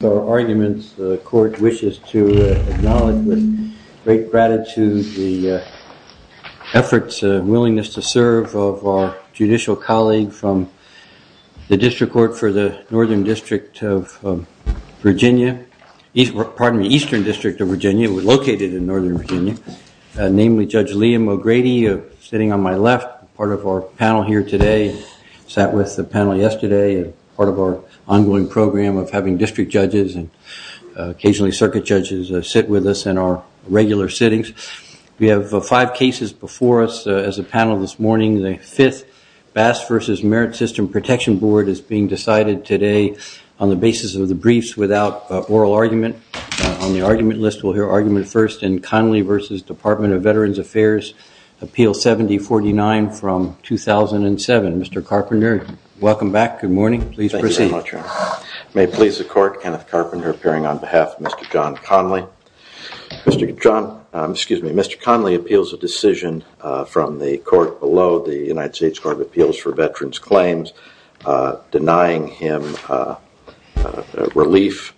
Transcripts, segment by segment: The court wishes to acknowledge with great gratitude the efforts and willingness to serve of our judicial colleague from the District Court for the Northern District of Virginia, pardon me, Eastern District of Virginia, located in Northern Virginia, namely Judge Liam O'Grady, sitting on my left, part of our panel here today, sat with the panel yesterday, part of our ongoing program of having district judges and occasionally circuit judges sit with us in our regular sittings. We have five cases before us as a panel this morning. The fifth Bass v. Merit System Protection Board is being decided today on the basis of the briefs without oral argument. On the argument list we'll hear argument first in Conley v. Department of Veterans Affairs, Appeal 7049 from 2007. Mr. Carpenter, welcome back, good morning, please proceed. Thank you very much, Your Honor. May it please the court, Kenneth Carpenter appearing on behalf of Mr. John Conley. Mr. Conley appeals a decision from the court below the United States Court of Appeals for Veterans Claims denying him relief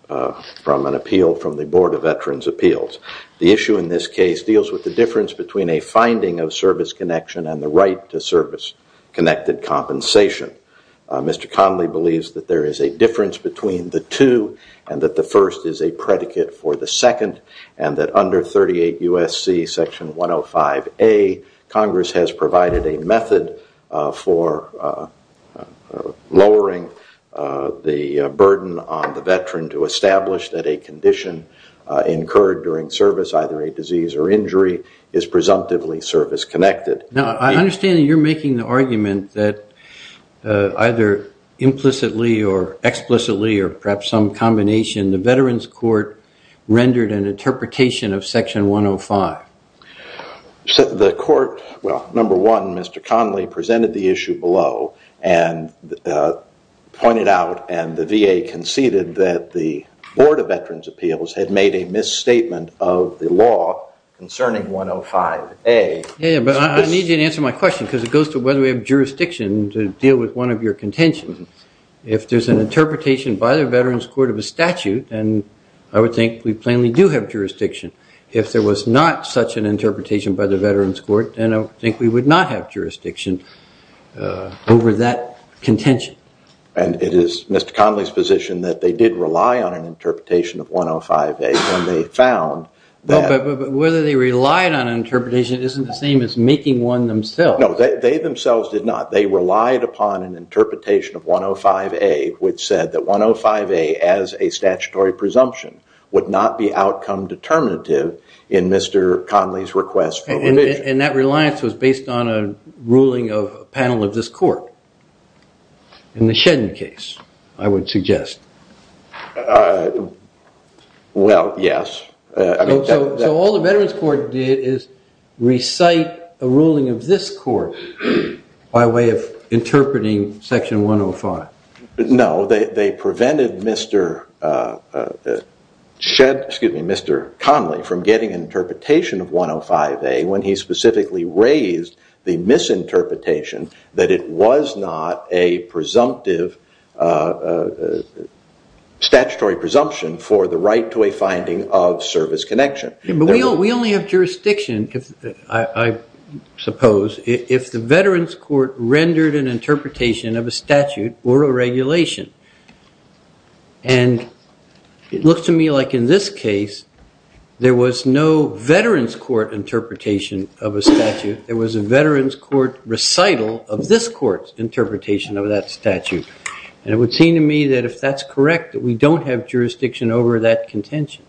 from an appeal from the Board of Veterans Appeals. The issue in this case deals with the difference between a finding of service connection and the right to service connected compensation. Mr. Conley believes that there is a difference between the two and that the first is a predicate for the second and that under 38 U.S.C. section 105A, Congress has provided a method for lowering the burden on the veteran to establish that a condition incurred during service, either a disease or injury, is presumptively service connected. Now, I understand that you're making the argument that either implicitly or explicitly or perhaps some combination, the Veterans Court rendered an interpretation of section 105. The court, well, number one, Mr. Conley presented the issue below and pointed out and the VA conceded that the Board of Veterans Appeals had made a misstatement of the law concerning 105A. Yeah, but I need you to answer my question because it goes to whether we have jurisdiction to deal with one of your contentions. If there's an interpretation by the Veterans Court of a statute, then I would think we plainly do have jurisdiction. If there was not such an interpretation by the Veterans Court, then I think we would not have jurisdiction over that contention. And it is Mr. Conley's position that they did rely on an interpretation of 105A when they found that But whether they relied on an interpretation isn't the same as making one themselves. No, they themselves did not. They relied upon an interpretation of 105A which said that 105A as a statutory presumption would not be outcome determinative in Mr. Conley's request for revision. And that reliance was based on a ruling of a panel of this court in the Shedden case, I would suggest. Well, yes. So all the Veterans Court did is recite a ruling of this court by way of interpreting section 105. No, they prevented Mr. Conley from getting an interpretation of 105A when he specifically raised the misinterpretation that it was not a presumptive statutory presumption for the right to a finding of service connection. But we only have jurisdiction, I suppose, if the Veterans Court rendered an interpretation of a statute or a regulation. And it looks to me like in this case, there was no Veterans Court interpretation of a statute. There was a Veterans Court recital of this court's interpretation of that statute. And it would seem to me that if that's correct, that we don't have jurisdiction over that contention.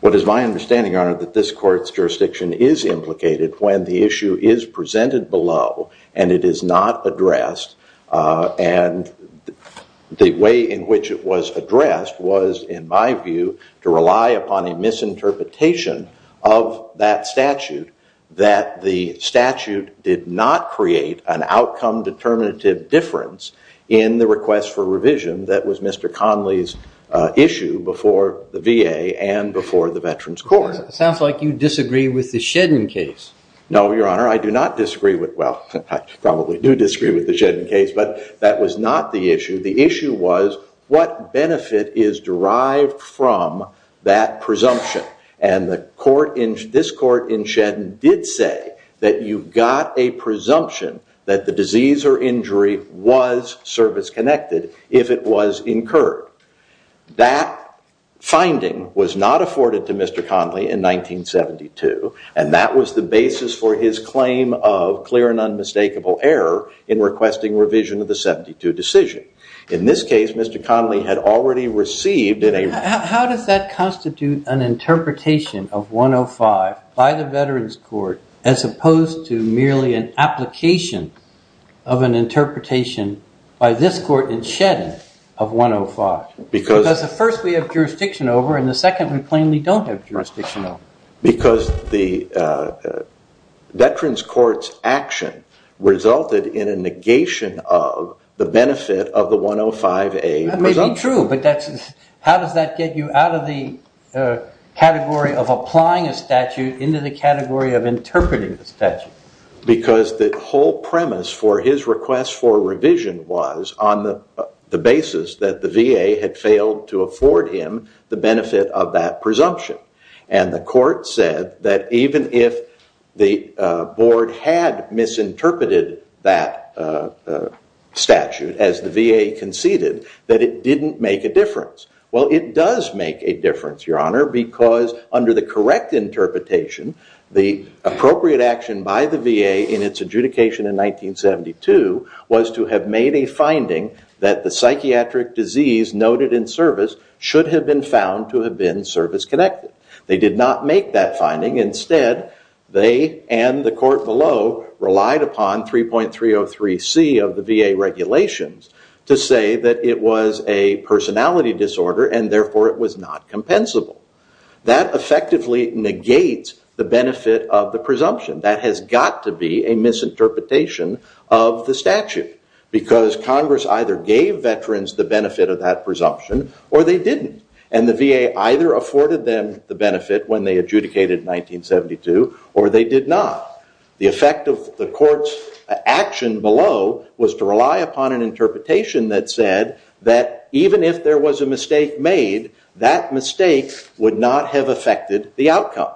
What is my understanding, Your Honor, that this court's jurisdiction is implicated when the issue is presented below and it is not addressed. And the way in which it was addressed was, in my view, to rely upon a misinterpretation of that statute that the statute did not create an outcome determinative difference in the request for revision. That was Mr. Conley's issue before the VA and before the Veterans Court. It sounds like you disagree with the Shedden case. No, Your Honor. I do not disagree with it. Well, I probably do disagree with the Shedden case. But that was not the issue. The issue was what benefit is derived from that presumption. And this court in Shedden did say that you've got a presumption that the disease or injury was service-connected if it was incurred. That finding was not afforded to Mr. Conley in 1972. And that was the basis for his claim of clear and unmistakable error in requesting revision of the 72 decision. In this case, Mr. Conley had already received in a- How does that constitute an interpretation of 105 by the Veterans Court as opposed to merely an application of an interpretation by this court in Shedden of 105? Because the first we have jurisdiction over and the second we plainly don't have jurisdiction over. Because the Veterans Court's action resulted in a negation of the benefit of the 105A presumption. That may be true. But how does that get you out of the category of applying a statute into the category of interpreting a statute? Because the whole premise for his request for revision was on the basis that the VA had failed to afford him the benefit of that presumption. And the court said that even if the board had misinterpreted that statute as the VA conceded, that it didn't make a difference. Well, it does make a difference, Your Honor, because under the correct interpretation, the appropriate action by the VA in its adjudication in 1972 was to have made a finding that the psychiatric disease noted in service should have been found to have been service-connected. They did not make that finding. Instead, they and the court below relied upon 3.303C of the VA regulations to say that it was a personality disorder and therefore it was not compensable. That effectively negates the benefit of the presumption. That has got to be a misinterpretation of the statute. Because Congress either gave veterans the benefit of that presumption or they didn't. And the VA either afforded them the benefit when they adjudicated in 1972 or they did not. The effect of the court's action below was to rely upon an interpretation that said that even if there was a mistake made, that mistake would not have affected the outcome.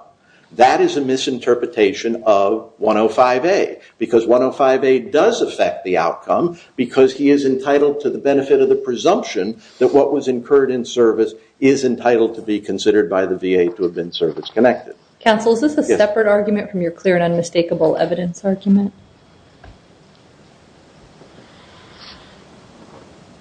That is a misinterpretation of 105A. Because 105A does affect the outcome because he is entitled to the benefit of the presumption that what was incurred in service is entitled to be considered by the VA to have been service-connected. Counsel, is this a separate argument from your clear and unmistakable evidence argument?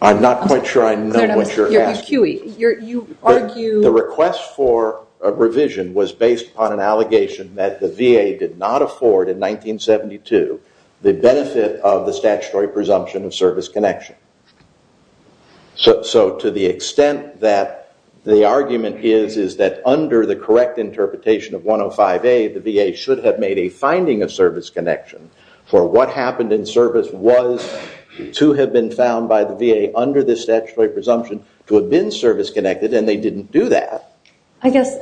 I'm not quite sure I know what you're asking. The request for a revision was based on an allegation that the VA did not afford in 1972 the benefit of the statutory presumption of service connection. So to the extent that the argument is that under the correct interpretation of 105A, the VA should have made a finding of service connection for what happened in service was to have been found by the VA under the statutory presumption to have been service-connected and they didn't do that. I guess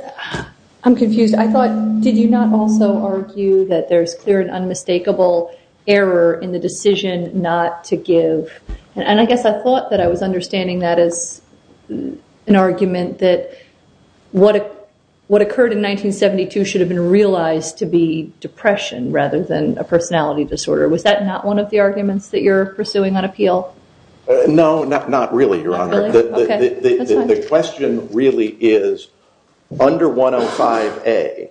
I'm confused. I thought, did you not also argue that there's clear and unmistakable error in the decision not to give? And I guess I thought that I was understanding that as an argument that what occurred in 1972 should have been realized to be depression rather than a personality disorder. Was that not one of the arguments that you're pursuing on appeal? No, not really, Your Honor. The question really is, under 105A,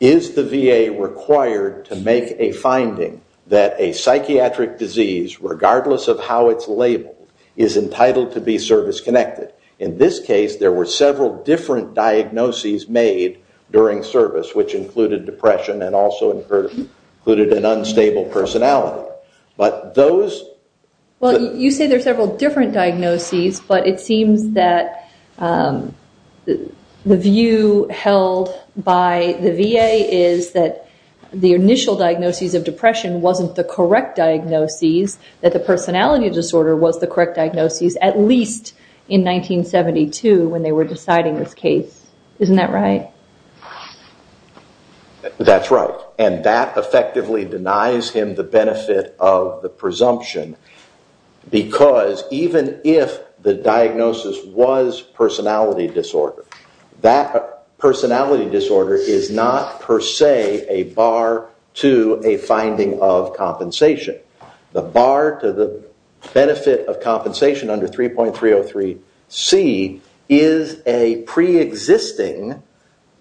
is the VA required to make a finding that a psychiatric disease, regardless of how it's labeled, is entitled to be service-connected? In this case, there were several different diagnoses made during service, which included depression and also included an unstable personality. Well, you say there are several different diagnoses, but it seems that the view held by the VA is that the initial diagnosis of depression wasn't the correct diagnosis, that the personality disorder was the correct diagnosis, at least in 1972 when they were deciding this case. Isn't that right? That's right. And that effectively denies him the benefit of the presumption because even if the diagnosis was personality disorder, that personality disorder is not per se a bar to a finding of compensation. The bar to the benefit of compensation under 3.303C is a pre-existing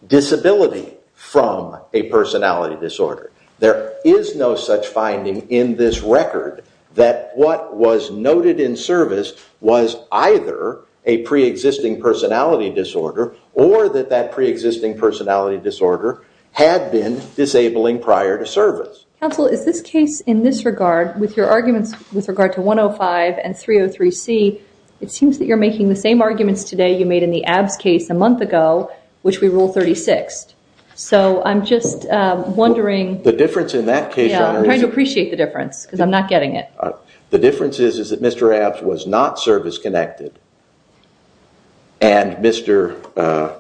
disability from a personality disorder. There is no such finding in this record that what was noted in service was either a pre-existing personality disorder or that that pre-existing personality disorder had been disabling prior to service. Counsel, is this case in this regard, with your arguments with regard to 1.05 and 3.03C, it seems that you're making the same arguments today you made in the Abbs case a month ago, which we ruled 36th. So I'm just wondering... The difference in that case... I'm trying to appreciate the difference because I'm not getting it. The difference is that Mr. Abbs was not service-connected and Mr.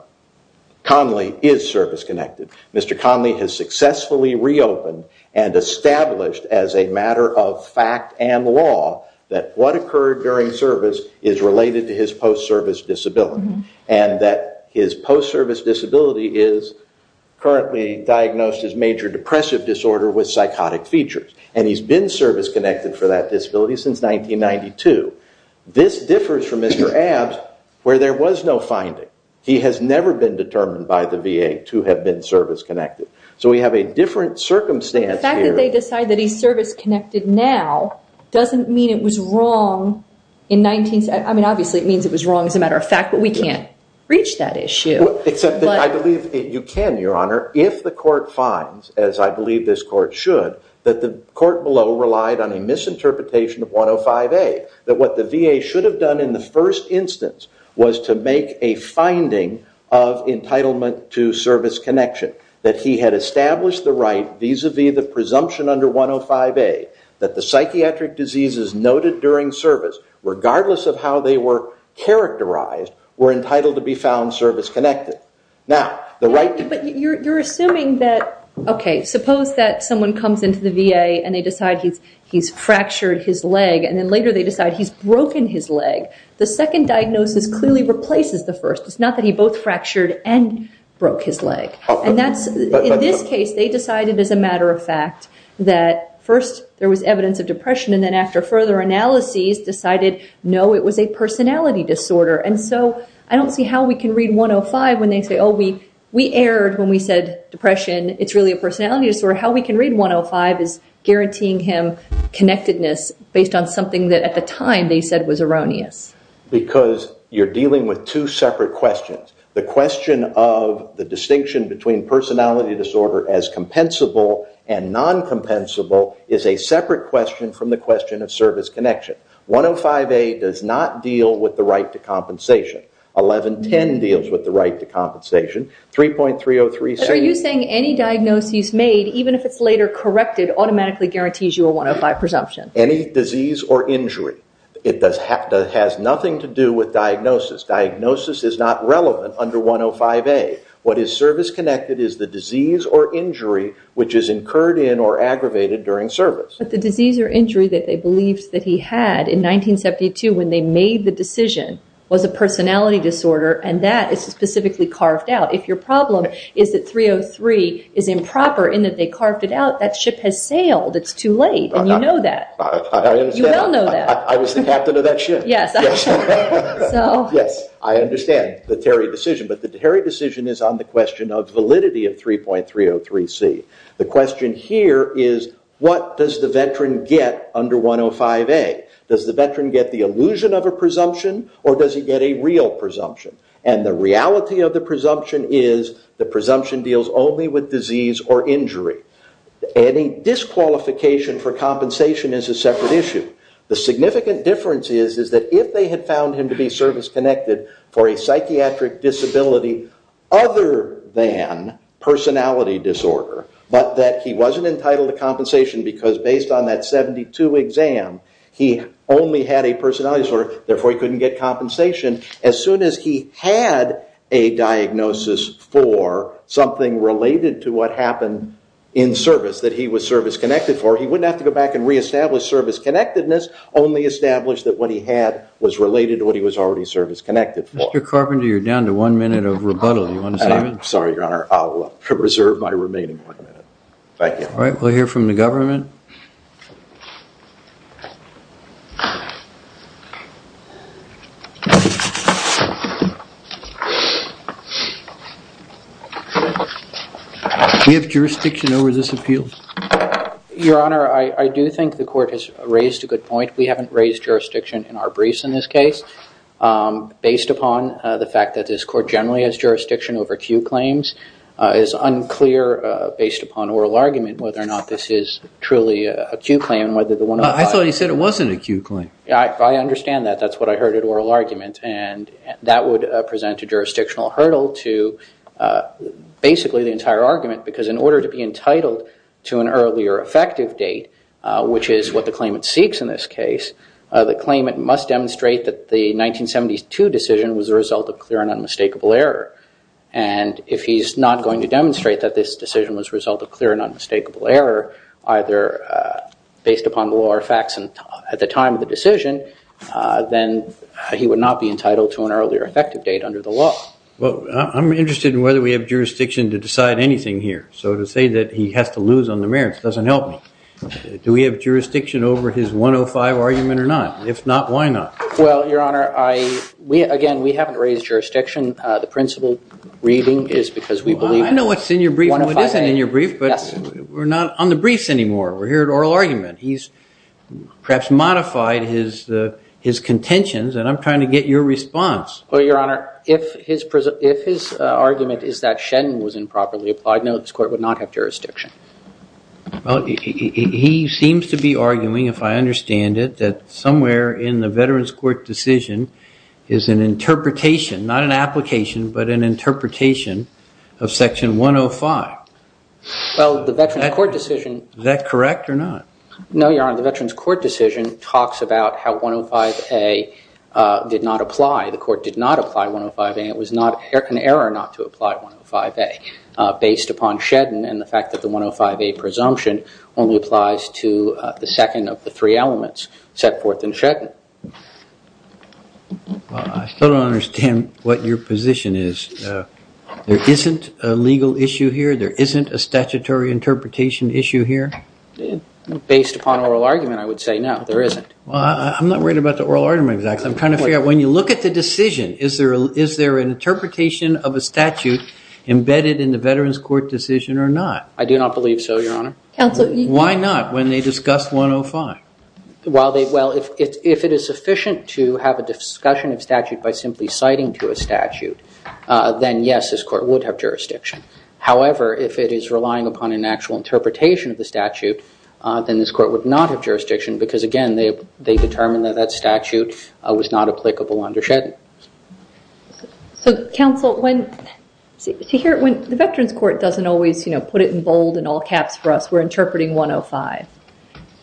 Conley is service-connected. Mr. Conley has successfully reopened and established as a matter of fact and law that what occurred during service is related to his post-service disability. And that his post-service disability is currently diagnosed as major depressive disorder with psychotic features. And he's been service-connected for that disability since 1992. This differs from Mr. Abbs where there was no finding. He has never been determined by the VA to have been service-connected. So we have a different circumstance here. The fact that they decide that he's service-connected now doesn't mean it was wrong in 19... I mean, obviously, it means it was wrong as a matter of fact, but we can't reach that issue. Except that I believe you can, Your Honor, if the court finds, as I believe this court should, that the court below relied on a misinterpretation of 1.05A. That what the VA should have done in the first instance was to make a finding of entitlement to service connection. That he had established the right vis-a-vis the presumption under 1.05A that the psychiatric diseases noted during service, regardless of how they were characterized, were entitled to be found service-connected. But you're assuming that, okay, suppose that someone comes into the VA and they decide he's fractured his leg and then later they decide he's broken his leg. The second diagnosis clearly replaces the first. It's not that he both fractured and broke his leg. In this case, they decided as a matter of fact that first there was evidence of depression and then after further analyses decided, no, it was a personality disorder. And so I don't see how we can read 1.05 when they say, oh, we erred when we said depression, it's really a personality disorder. How we can read 1.05 is guaranteeing him connectedness based on something that at the time they said was erroneous. Because you're dealing with two separate questions. The question of the distinction between personality disorder as compensable and non-compensable is a separate question from the question of service connection. 1.05a does not deal with the right to compensation. 11.10 deals with the right to compensation. 3.303 says... Are you saying any diagnosis made, even if it's later corrected, automatically guarantees you a 1.05 presumption? Any disease or injury. It has nothing to do with diagnosis. Diagnosis is not relevant under 1.05a. What is service-connected is the disease or injury which is incurred in or aggravated during service. But the disease or injury that they believed that he had in 1972 when they made the decision was a personality disorder. And that is specifically carved out. If your problem is that 3.03 is improper in that they carved it out, that ship has sailed. It's too late. And you know that. I understand. You well know that. I was the captain of that ship. Yes. I understand the Terry decision. But the Terry decision is on the question of validity of 3.303c. The question here is what does the veteran get under 1.05a? Does the veteran get the illusion of a presumption or does he get a real presumption? And the reality of the presumption is the presumption deals only with disease or injury. Any disqualification for compensation is a separate issue. The significant difference is that if they had found him to be service-connected for a psychiatric disability other than personality disorder, but that he wasn't entitled to compensation because based on that 72 exam he only had a personality disorder, therefore he couldn't get compensation, as soon as he had a diagnosis for something related to what happened in service that he was service-connected for, he wouldn't have to go back and reestablish service-connectedness, only establish that what he had was related to what he was already service-connected for. Mr. Carpenter, you're down to one minute of rebuttal. You want to save it? I'm sorry, Your Honor. I'll reserve my remaining one minute. Thank you. All right. We'll hear from the government. Do you have jurisdiction over this appeal? Your Honor, I do think the court has raised a good point. We haven't raised jurisdiction in our briefs in this case. Based upon the fact that this court generally has jurisdiction over Q claims, it's unclear based upon oral argument whether or not this is truly a Q claim. I thought you said it wasn't a Q claim. I understand that. That's what I heard at oral argument, and that would present a jurisdictional hurdle to basically the entire argument because in order to be entitled to an earlier effective date, which is what the claimant seeks in this case, the claimant must demonstrate that the 1972 decision was a result of clear and unmistakable error. And if he's not going to demonstrate that this decision was a result of clear and unmistakable error, either based upon the law or facts at the time of the decision, then he would not be entitled to an earlier effective date under the law. Well, I'm interested in whether we have jurisdiction to decide anything here. So to say that he has to lose on the merits doesn't help me. Do we have jurisdiction over his 105 argument or not? If not, why not? Well, Your Honor, again, we haven't raised jurisdiction. The principal reading is because we believe it. I know what's in your brief and what isn't in your brief, but we're not on the briefs anymore. We're here at oral argument. He's perhaps modified his contentions, and I'm trying to get your response. Well, Your Honor, if his argument is that Shen was improperly applied, no, this court would not have jurisdiction. Well, he seems to be arguing, if I understand it, that somewhere in the Veterans Court decision is an interpretation, not an application, but an interpretation of Section 105. Well, the Veterans Court decision- Is that correct or not? No, Your Honor, the Veterans Court decision talks about how 105A did not apply. The court did not apply 105A. It was an error not to apply 105A based upon Shedden and the fact that the 105A presumption only applies to the second of the three elements set forth in Shedden. Well, I still don't understand what your position is. There isn't a legal issue here? There isn't a statutory interpretation issue here? Based upon oral argument, I would say no, there isn't. Well, I'm not worried about the oral argument exactly. I'm trying to figure out, when you look at the decision, is there an interpretation of a statute embedded in the Veterans Court decision or not? I do not believe so, Your Honor. Why not when they discussed 105? Well, if it is sufficient to have a discussion of statute by simply citing to a statute, then yes, this court would have jurisdiction. However, if it is relying upon an actual interpretation of the statute, then this court would not have jurisdiction because, again, they determined that that statute was not applicable under Shedden. So, counsel, the Veterans Court doesn't always put it in bold and all caps for us. We're interpreting 105.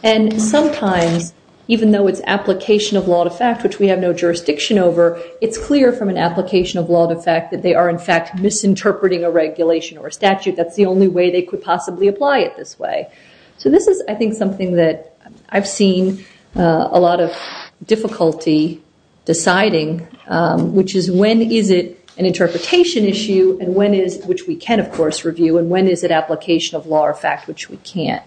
And sometimes, even though it's application of law to fact, which we have no jurisdiction over, it's clear from an application of law to fact that they are, in fact, misinterpreting a regulation or a statute. That's the only way they could possibly apply it this way. So this is, I think, something that I've seen a lot of difficulty deciding, which is when is it an interpretation issue, which we can, of course, review, and when is it application of law or fact, which we can't.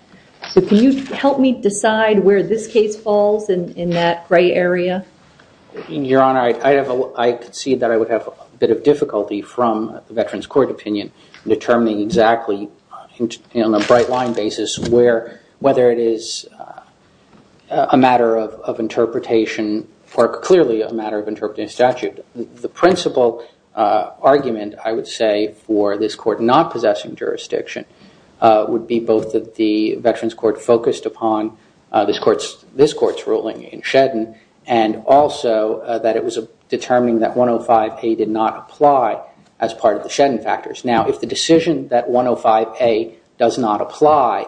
So can you help me decide where this case falls in that gray area? Your Honor, I concede that I would have a bit of difficulty from the Veterans Court opinion determining exactly on a bright line basis whether it is a matter of interpretation or clearly a matter of interpreting a statute. The principal argument, I would say, for this court not possessing jurisdiction would be both that the Veterans Court focused upon this court's ruling in Shedden and also that it was determining that 105A did not apply as part of the Shedden factors. Now, if the decision that 105A does not apply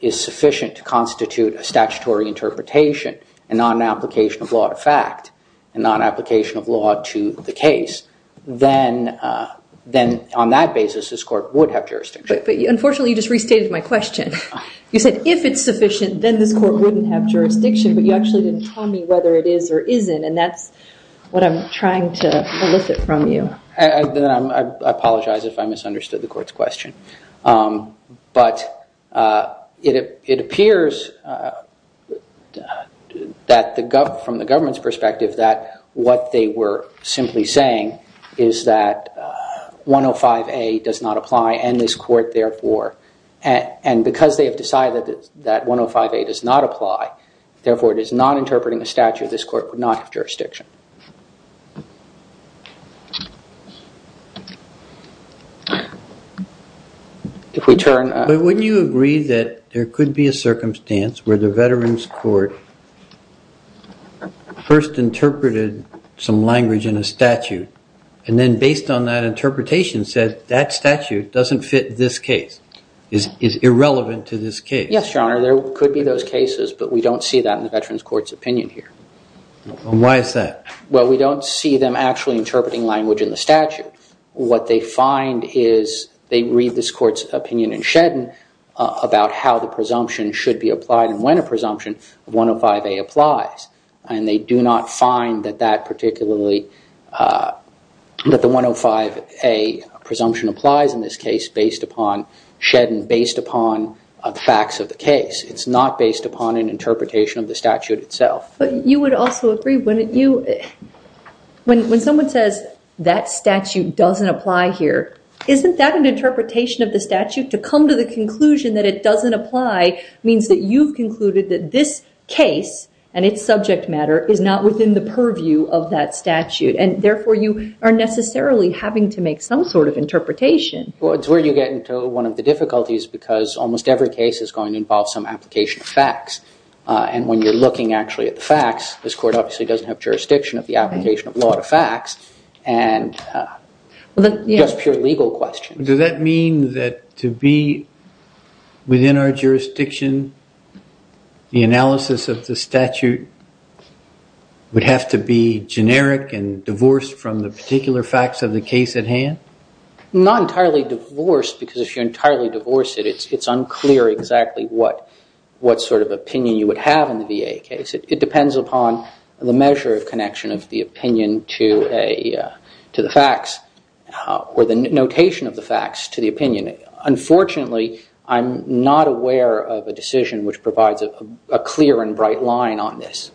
is sufficient to constitute a statutory interpretation and not an application of law to fact and not an application of law to the case, then on that basis, this court would have jurisdiction. But unfortunately, you just restated my question. You said if it's sufficient, then this court wouldn't have jurisdiction, but you actually didn't tell me whether it is or isn't, and that's what I'm trying to elicit from you. I apologize if I misunderstood the court's question. But it appears from the government's perspective that what they were simply saying is that 105A does not apply and this court, therefore, and because they have decided that 105A does not apply, therefore, it is not interpreting a statute, this court would not have jurisdiction. If we turn... But wouldn't you agree that there could be a circumstance where the Veterans Court first interpreted some language in a statute and then based on that interpretation said that statute doesn't fit this case, is irrelevant to this case? Yes, Your Honor, there could be those cases, but we don't see that in the Veterans Court's opinion here. Why is that? Well, we don't see them actually interpreting language in the statute. What they find is they read this court's opinion in Shedden about how the presumption should be applied and when a presumption of 105A applies, and they do not find that that particularly, that the 105A presumption applies in this case based upon Shedden, based upon the facts of the case. It's not based upon an interpretation of the statute itself. But you would also agree, wouldn't you, when someone says that statute doesn't apply here, isn't that an interpretation of the statute? To come to the conclusion that it doesn't apply means that you've concluded that this case and its subject matter is not within the purview of that statute and, therefore, you are necessarily having to make some sort of interpretation. Well, it's where you get into one of the difficulties because almost every case is going to involve some application of facts. And when you're looking actually at the facts, this court obviously doesn't have jurisdiction of the application of law to facts and just pure legal questions. Does that mean that to be within our jurisdiction, the analysis of the statute would have to be generic and divorced from the particular facts of the case at hand? Not entirely divorced because if you entirely divorce it, it's unclear exactly what sort of opinion you would have in the VA case. It depends upon the measure of connection of the opinion to the facts or the notation of the facts to the opinion. Unfortunately, I'm not aware of a decision which provides a clear and bright line on this.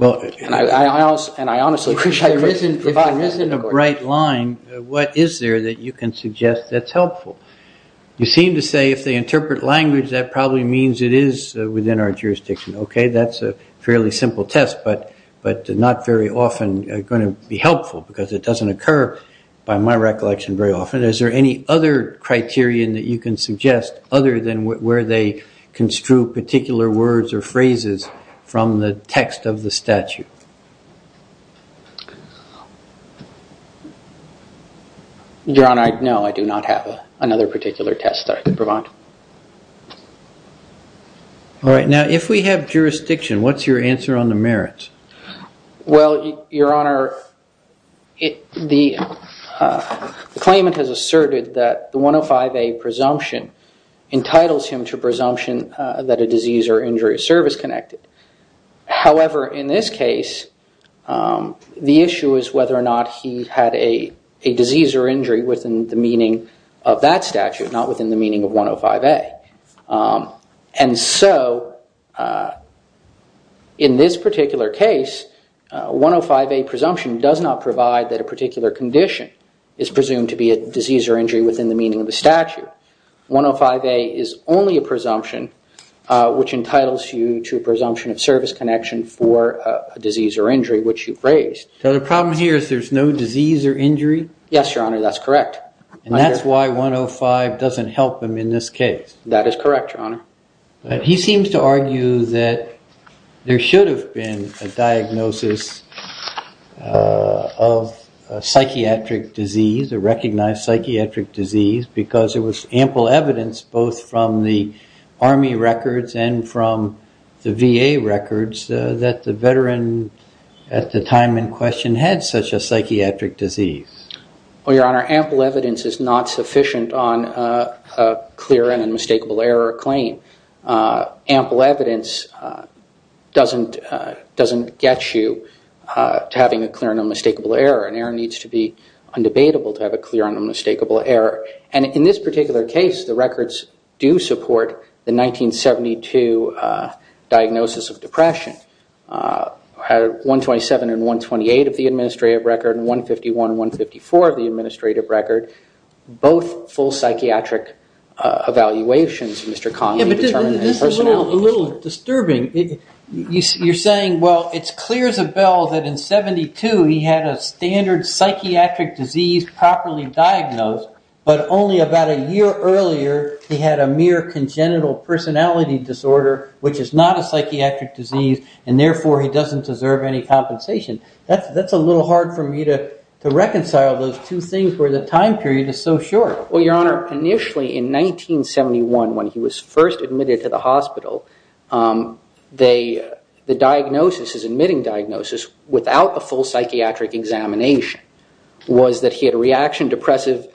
If there isn't a bright line, what is there that you can suggest that's helpful? You seem to say if they interpret language, that probably means it is within our jurisdiction. Okay, that's a fairly simple test but not very often going to be helpful because it doesn't occur, by my recollection, very often. Is there any other criterion that you can suggest other than where they construe particular words or phrases from the text of the statute? Your Honor, no, I do not have another particular test that I can provide. All right, now if we have jurisdiction, what's your answer on the merits? Well, Your Honor, the claimant has asserted that the 105A presumption entitles him to presumption that a disease or injury service connected. However, in this case, the issue is whether or not he had a disease or injury within the meaning of that statute, not within the meaning of 105A. And so, in this particular case, 105A presumption does not provide that a particular condition is presumed to be a disease or injury within the meaning of the statute. 105A is only a presumption which entitles you to a presumption of service connection for a disease or injury which you've raised. So the problem here is there's no disease or injury? Yes, Your Honor, that's correct. And that's why 105 doesn't help him in this case? That is correct, Your Honor. He seems to argue that there should have been a diagnosis of psychiatric disease, a recognized psychiatric disease, because there was ample evidence, both from the Army records and from the VA records, that the veteran at the time in question had such a psychiatric disease. Well, Your Honor, ample evidence is not sufficient on a clear and unmistakable error claim. Ample evidence doesn't get you to having a clear and unmistakable error. An error needs to be undebatable to have a clear and unmistakable error. And in this particular case, the records do support the 1972 diagnosis of depression. 127 and 128 of the administrative record, and 151 and 154 of the administrative record, both full psychiatric evaluations, Mr. Connolly determined. This is a little disturbing. You're saying, well, it's clear as a bell that in 72 he had a standard psychiatric disease properly diagnosed, but only about a year earlier he had a mere congenital personality disorder, which is not a psychiatric disease, and therefore he doesn't deserve any compensation. That's a little hard for me to reconcile those two things where the time period is so short. Well, Your Honor, initially in 1971, when he was first admitted to the hospital, the diagnosis, his admitting diagnosis, without a full psychiatric examination, was that he had a reaction depressive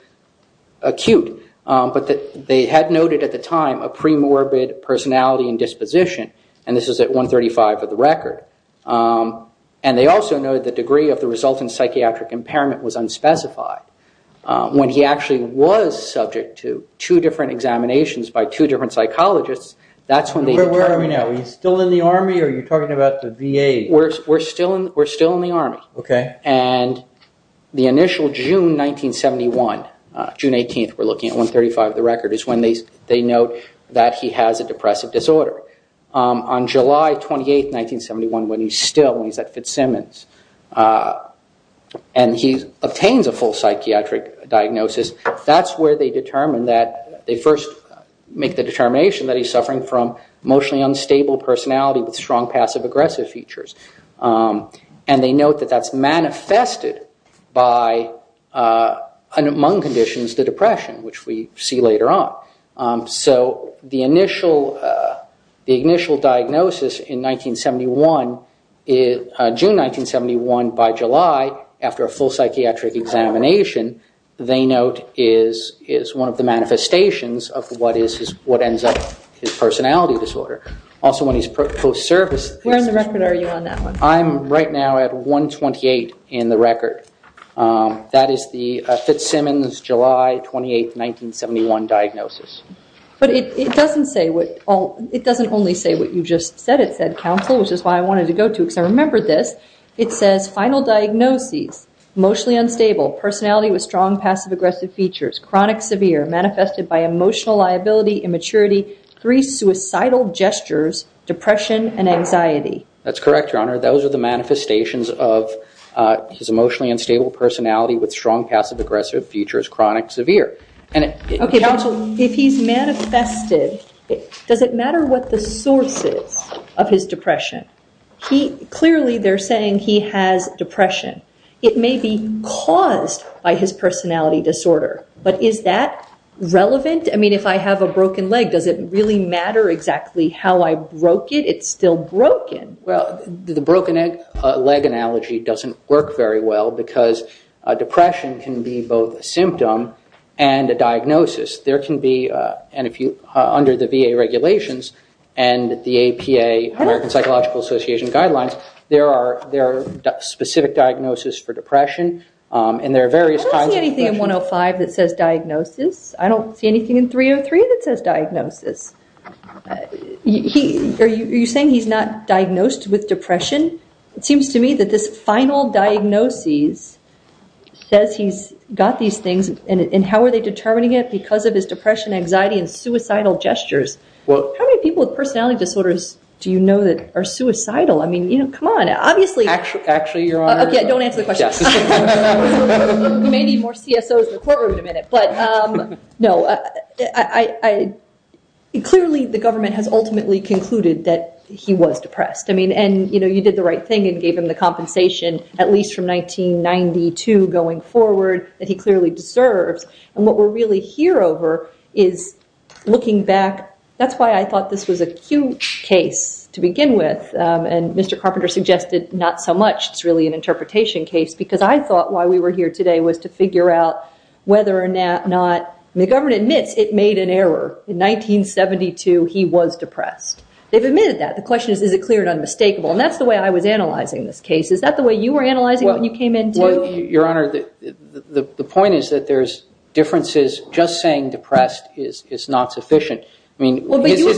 acute, but they had noted at the time a premorbid personality and disposition, and this is at 135 of the record. And they also noted the degree of the resultant psychiatric impairment was unspecified. When he actually was subject to two different examinations by two different psychologists, that's when they determined. Where are we now? Are we still in the Army, or are you talking about the VA? We're still in the Army. Okay. And the initial June 1971, June 18th, we're looking at 135 of the record, is when they note that he has a depressive disorder. On July 28, 1971, when he's still, when he's at Fitzsimmons, and he obtains a full psychiatric diagnosis, that's where they first make the determination that he's suffering from emotionally unstable personality with strong passive-aggressive features. And they note that that's manifested by, among conditions, the depression, which we see later on. So the initial diagnosis in 1971, June 1971, by July, after a full psychiatric examination, they note is one of the manifestations of what ends up his personality disorder. Also when he's post-service. Where in the record are you on that one? I'm right now at 128 in the record. That is the Fitzsimmons, July 28, 1971 diagnosis. But it doesn't say what all, it doesn't only say what you just said, it said, counsel, which is why I wanted to go to, because I remembered this. It says, final diagnoses, emotionally unstable, personality with strong passive-aggressive features, chronic severe, manifested by emotional liability, immaturity, three suicidal gestures, depression, and anxiety. That's correct, Your Honor. Those are the manifestations of his emotionally unstable personality with strong passive-aggressive features, chronic severe. Okay, counsel, if he's manifested, does it matter what the source is of his depression? Clearly they're saying he has depression. It may be caused by his personality disorder. But is that relevant? I mean, if I have a broken leg, does it really matter exactly how I broke it? It's still broken. Well, the broken leg analogy doesn't work very well, because depression can be both a symptom and a diagnosis. There can be, under the VA regulations and the APA, American Psychological Association guidelines, there are specific diagnosis for depression, and there are various kinds of depression. I don't see anything in 105 that says diagnosis. I don't see anything in 303 that says diagnosis. Are you saying he's not diagnosed with depression? It seems to me that this final diagnosis says he's got these things, and how are they determining it? Because of his depression, anxiety, and suicidal gestures. How many people with personality disorders do you know that are suicidal? I mean, come on, obviously. Actually, Your Honor. Okay, don't answer the question. We may need more CSOs in the courtroom in a minute. But, no, clearly the government has ultimately concluded that he was depressed. I mean, and, you know, you did the right thing and gave him the compensation, at least from 1992 going forward, that he clearly deserves. And what we're really here over is looking back. That's why I thought this was a huge case to begin with, and Mr. Carpenter suggested not so much. It's really an interpretation case because I thought why we were here today was to figure out whether or not the government admits it made an error. In 1972, he was depressed. They've admitted that. The question is, is it clear and unmistakable? And that's the way I was analyzing this case. Is that the way you were analyzing it when you came in, too? Well, Your Honor, the point is that there's differences. Just saying depressed is not sufficient. Well, but you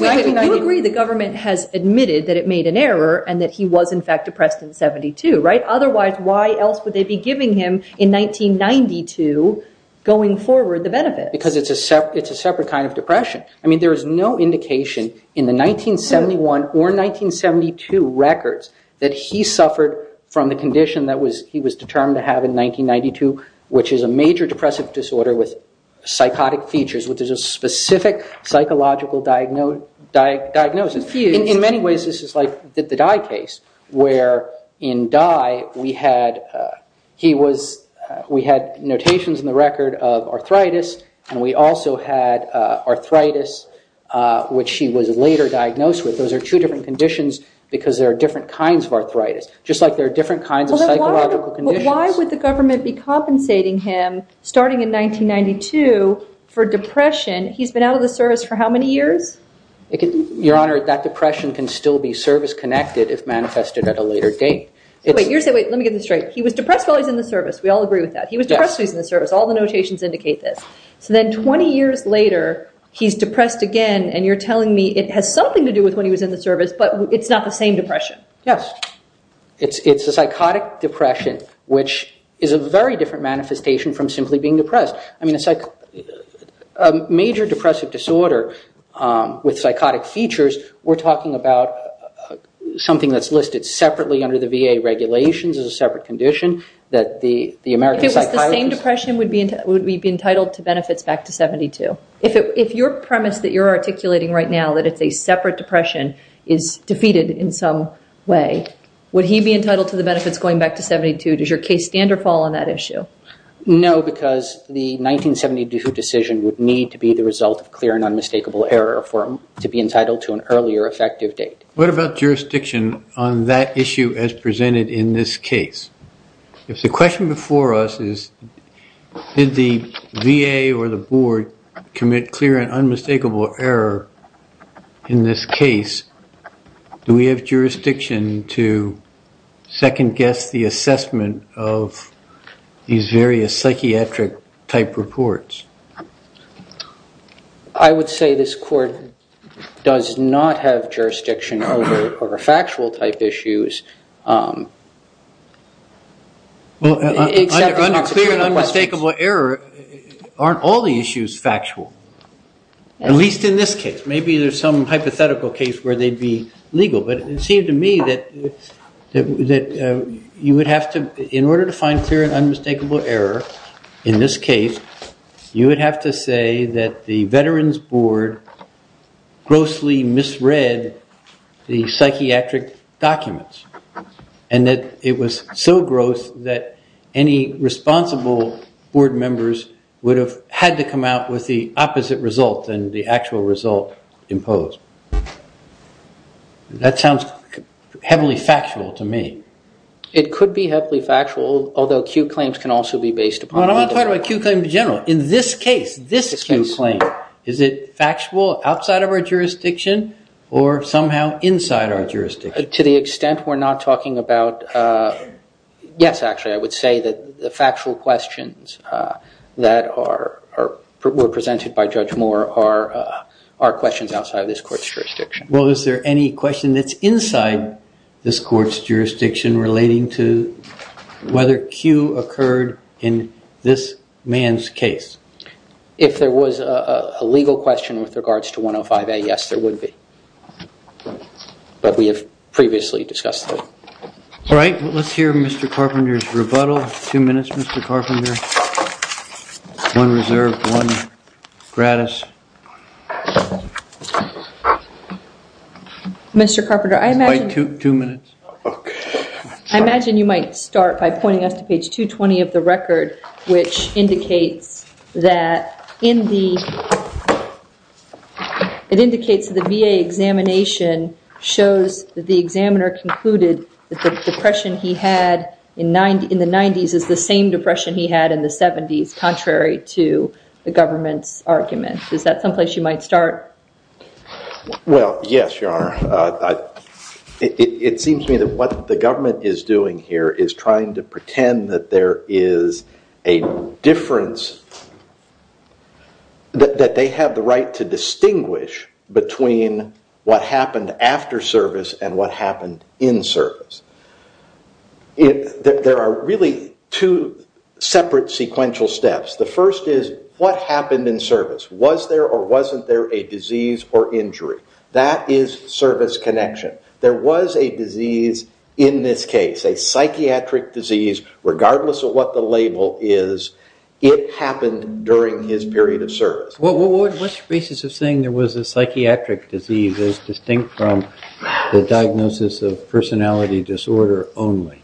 agree the government has admitted that it made an error and that he was, in fact, depressed in 72, right? Otherwise, why else would they be giving him, in 1992, going forward, the benefit? Because it's a separate kind of depression. I mean, there is no indication in the 1971 or 1972 records that he suffered from the condition that he was determined to have in 1992, which is a major depressive disorder with psychotic features, which is a specific psychological diagnosis. In many ways, this is like the Dye case, where in Dye, we had notations in the record of arthritis, and we also had arthritis, which he was later diagnosed with. Those are two different conditions because there are different kinds of arthritis, just like there are different kinds of psychological conditions. But why would the government be compensating him, starting in 1992, for depression? He's been out of the service for how many years? Your Honor, that depression can still be service-connected if manifested at a later date. Wait, let me get this straight. He was depressed while he was in the service. We all agree with that. He was depressed while he was in the service. All the notations indicate this. So then 20 years later, he's depressed again, and you're telling me it has something to do with when he was in the service, but it's not the same depression. Yes. It's a psychotic depression, which is a very different manifestation from simply being depressed. A major depressive disorder with psychotic features, we're talking about something that's listed separately under the VA regulations as a separate condition that the American Psychiatrist... If it was the same depression, would he be entitled to benefits back to 1972? If your premise that you're articulating right now, that it's a separate depression, is defeated in some way, would he be entitled to the benefits going back to 1972? Does your case standard fall on that issue? No, because the 1972 decision would need to be the result of clear and unmistakable error for him to be entitled to an earlier effective date. What about jurisdiction on that issue as presented in this case? If the question before us is, did the VA or the board commit clear and unmistakable error in this case, do we have jurisdiction to second-guess the assessment of these various psychiatric-type reports? I would say this court does not have jurisdiction over factual-type issues. Well, under clear and unmistakable error, aren't all the issues factual? At least in this case. Maybe there's some hypothetical case where they'd be legal, but it seemed to me that you would have to... In order to find clear and unmistakable error in this case, you would have to say that the Veterans Board grossly misread the psychiatric documents, and that it was so gross that any responsible board members would have had to come out with the opposite result than the actual result imposed. That sounds heavily factual to me. It could be heavily factual, although acute claims can also be based upon... Well, I'm not talking about acute claims in general. In this case, this acute claim, is it factual outside of our jurisdiction or somehow inside our jurisdiction? To the extent we're not talking about... Yes, actually, I would say that the factual questions that were presented by Judge Moore are questions outside of this court's jurisdiction. Well, is there any question that's inside this court's jurisdiction relating to whether Q occurred in this man's case? If there was a legal question with regards to 105A, yes, there would be. But we have previously discussed that. All right, let's hear Mr. Carpenter's rebuttal. Two minutes, Mr. Carpenter. One reserved, one gratis. Mr. Carpenter, I imagine... Two minutes. I imagine you might start by pointing us to page 220 of the record, which indicates that in the... that the examiner concluded that the depression he had in the 90s is the same depression he had in the 70s, contrary to the government's argument. Is that someplace you might start? Well, yes, Your Honor. It seems to me that what the government is doing here is trying to pretend that there is a difference... that they have the right to distinguish between what happened after service and what happened in service. There are really two separate sequential steps. The first is what happened in service. Was there or wasn't there a disease or injury? That is service connection. There was a disease in this case, a psychiatric disease, regardless of what the label is. It happened during his period of service. What's your basis of saying there was a psychiatric disease as distinct from the diagnosis of personality disorder only?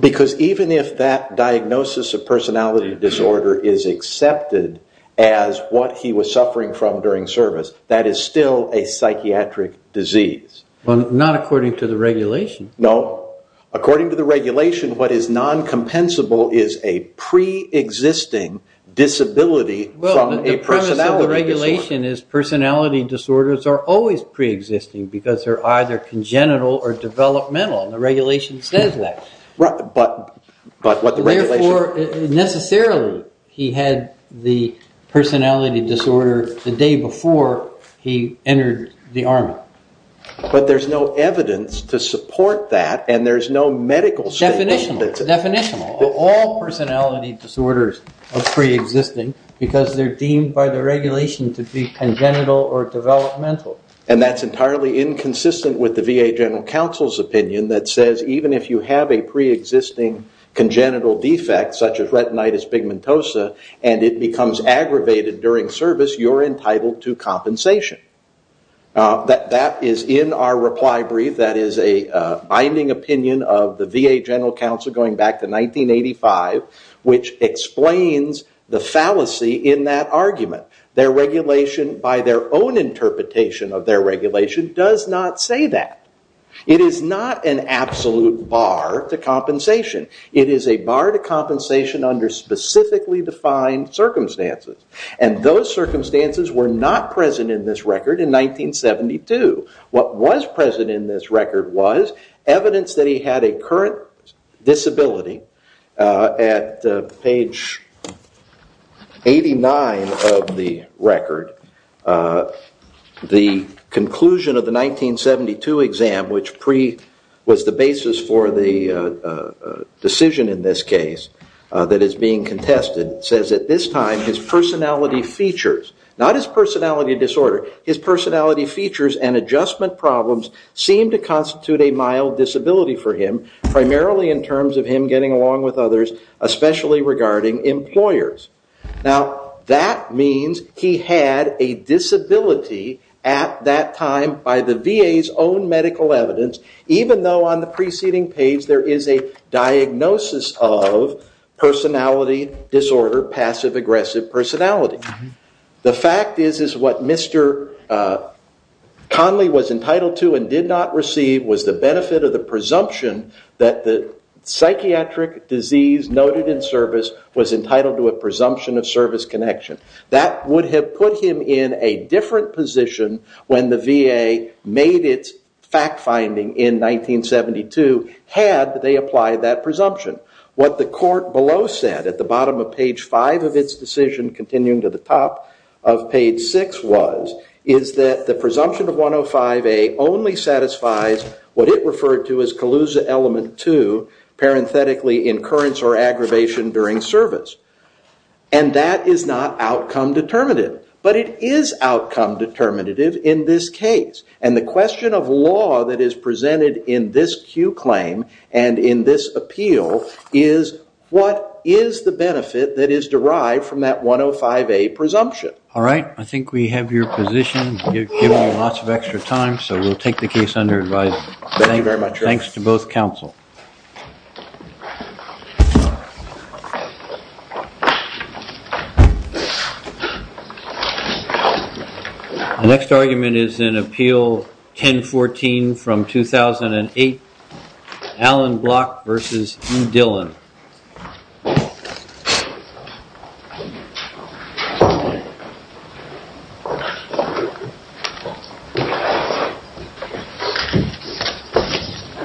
Because even if that diagnosis of personality disorder is accepted as what he was suffering from during service, that is still a psychiatric disease. Well, not according to the regulation. No. According to the regulation, what is non-compensable is a pre-existing disability from a personality disorder. The premise of the regulation is personality disorders are always pre-existing because they're either congenital or developmental. The regulation says that. But what the regulation... Therefore, necessarily, he had the personality disorder the day before he entered the Army. But there's no evidence to support that and there's no medical statement. Definitional. All personality disorders are pre-existing because they're deemed by the regulation to be congenital or developmental. And that's entirely inconsistent with the VA General Counsel's opinion that says even if you have a pre-existing congenital defect, such as retinitis pigmentosa, and it becomes aggravated during service, you're entitled to compensation. That is in our reply brief. That is a binding opinion of the VA General Counsel going back to 1985, which explains the fallacy in that argument. Their regulation, by their own interpretation of their regulation, does not say that. It is not an absolute bar to compensation. It is a bar to compensation under specifically defined circumstances. And those circumstances were not present in this record in 1972. What was present in this record was evidence that he had a current disability. At page 89 of the record, the conclusion of the 1972 exam, which was the basis for the decision in this case that is being contested, says that this time his personality features, not his personality disorder, his personality features and adjustment problems seem to constitute a mild disability for him, primarily in terms of him getting along with others, especially regarding employers. Now, that means he had a disability at that time by the VA's own medical evidence, even though on the preceding page there is a diagnosis of personality disorder, passive-aggressive personality. The fact is what Mr. Conley was entitled to and did not receive was the benefit of the presumption that the psychiatric disease noted in service was entitled to a presumption of service connection. That would have put him in a different position when the VA made its fact-finding in 1972, had they applied that presumption. What the court below said at the bottom of page 5 of its decision continuing to the top of page 6 was is that the presumption of 105A only satisfies what it referred to as Kaluza element 2, parenthetically, incurrence or aggravation during service. And that is not outcome determinative, but it is outcome determinative in this case. And the question of law that is presented in this Q claim and in this appeal is, what is the benefit that is derived from that 105A presumption? All right, I think we have your position. You've given us lots of extra time, so we'll take the case under advisement. Thank you very much. Thanks to both counsel. The next argument is in Appeal 1014 from 2008, Alan Block v. Hugh Dillon.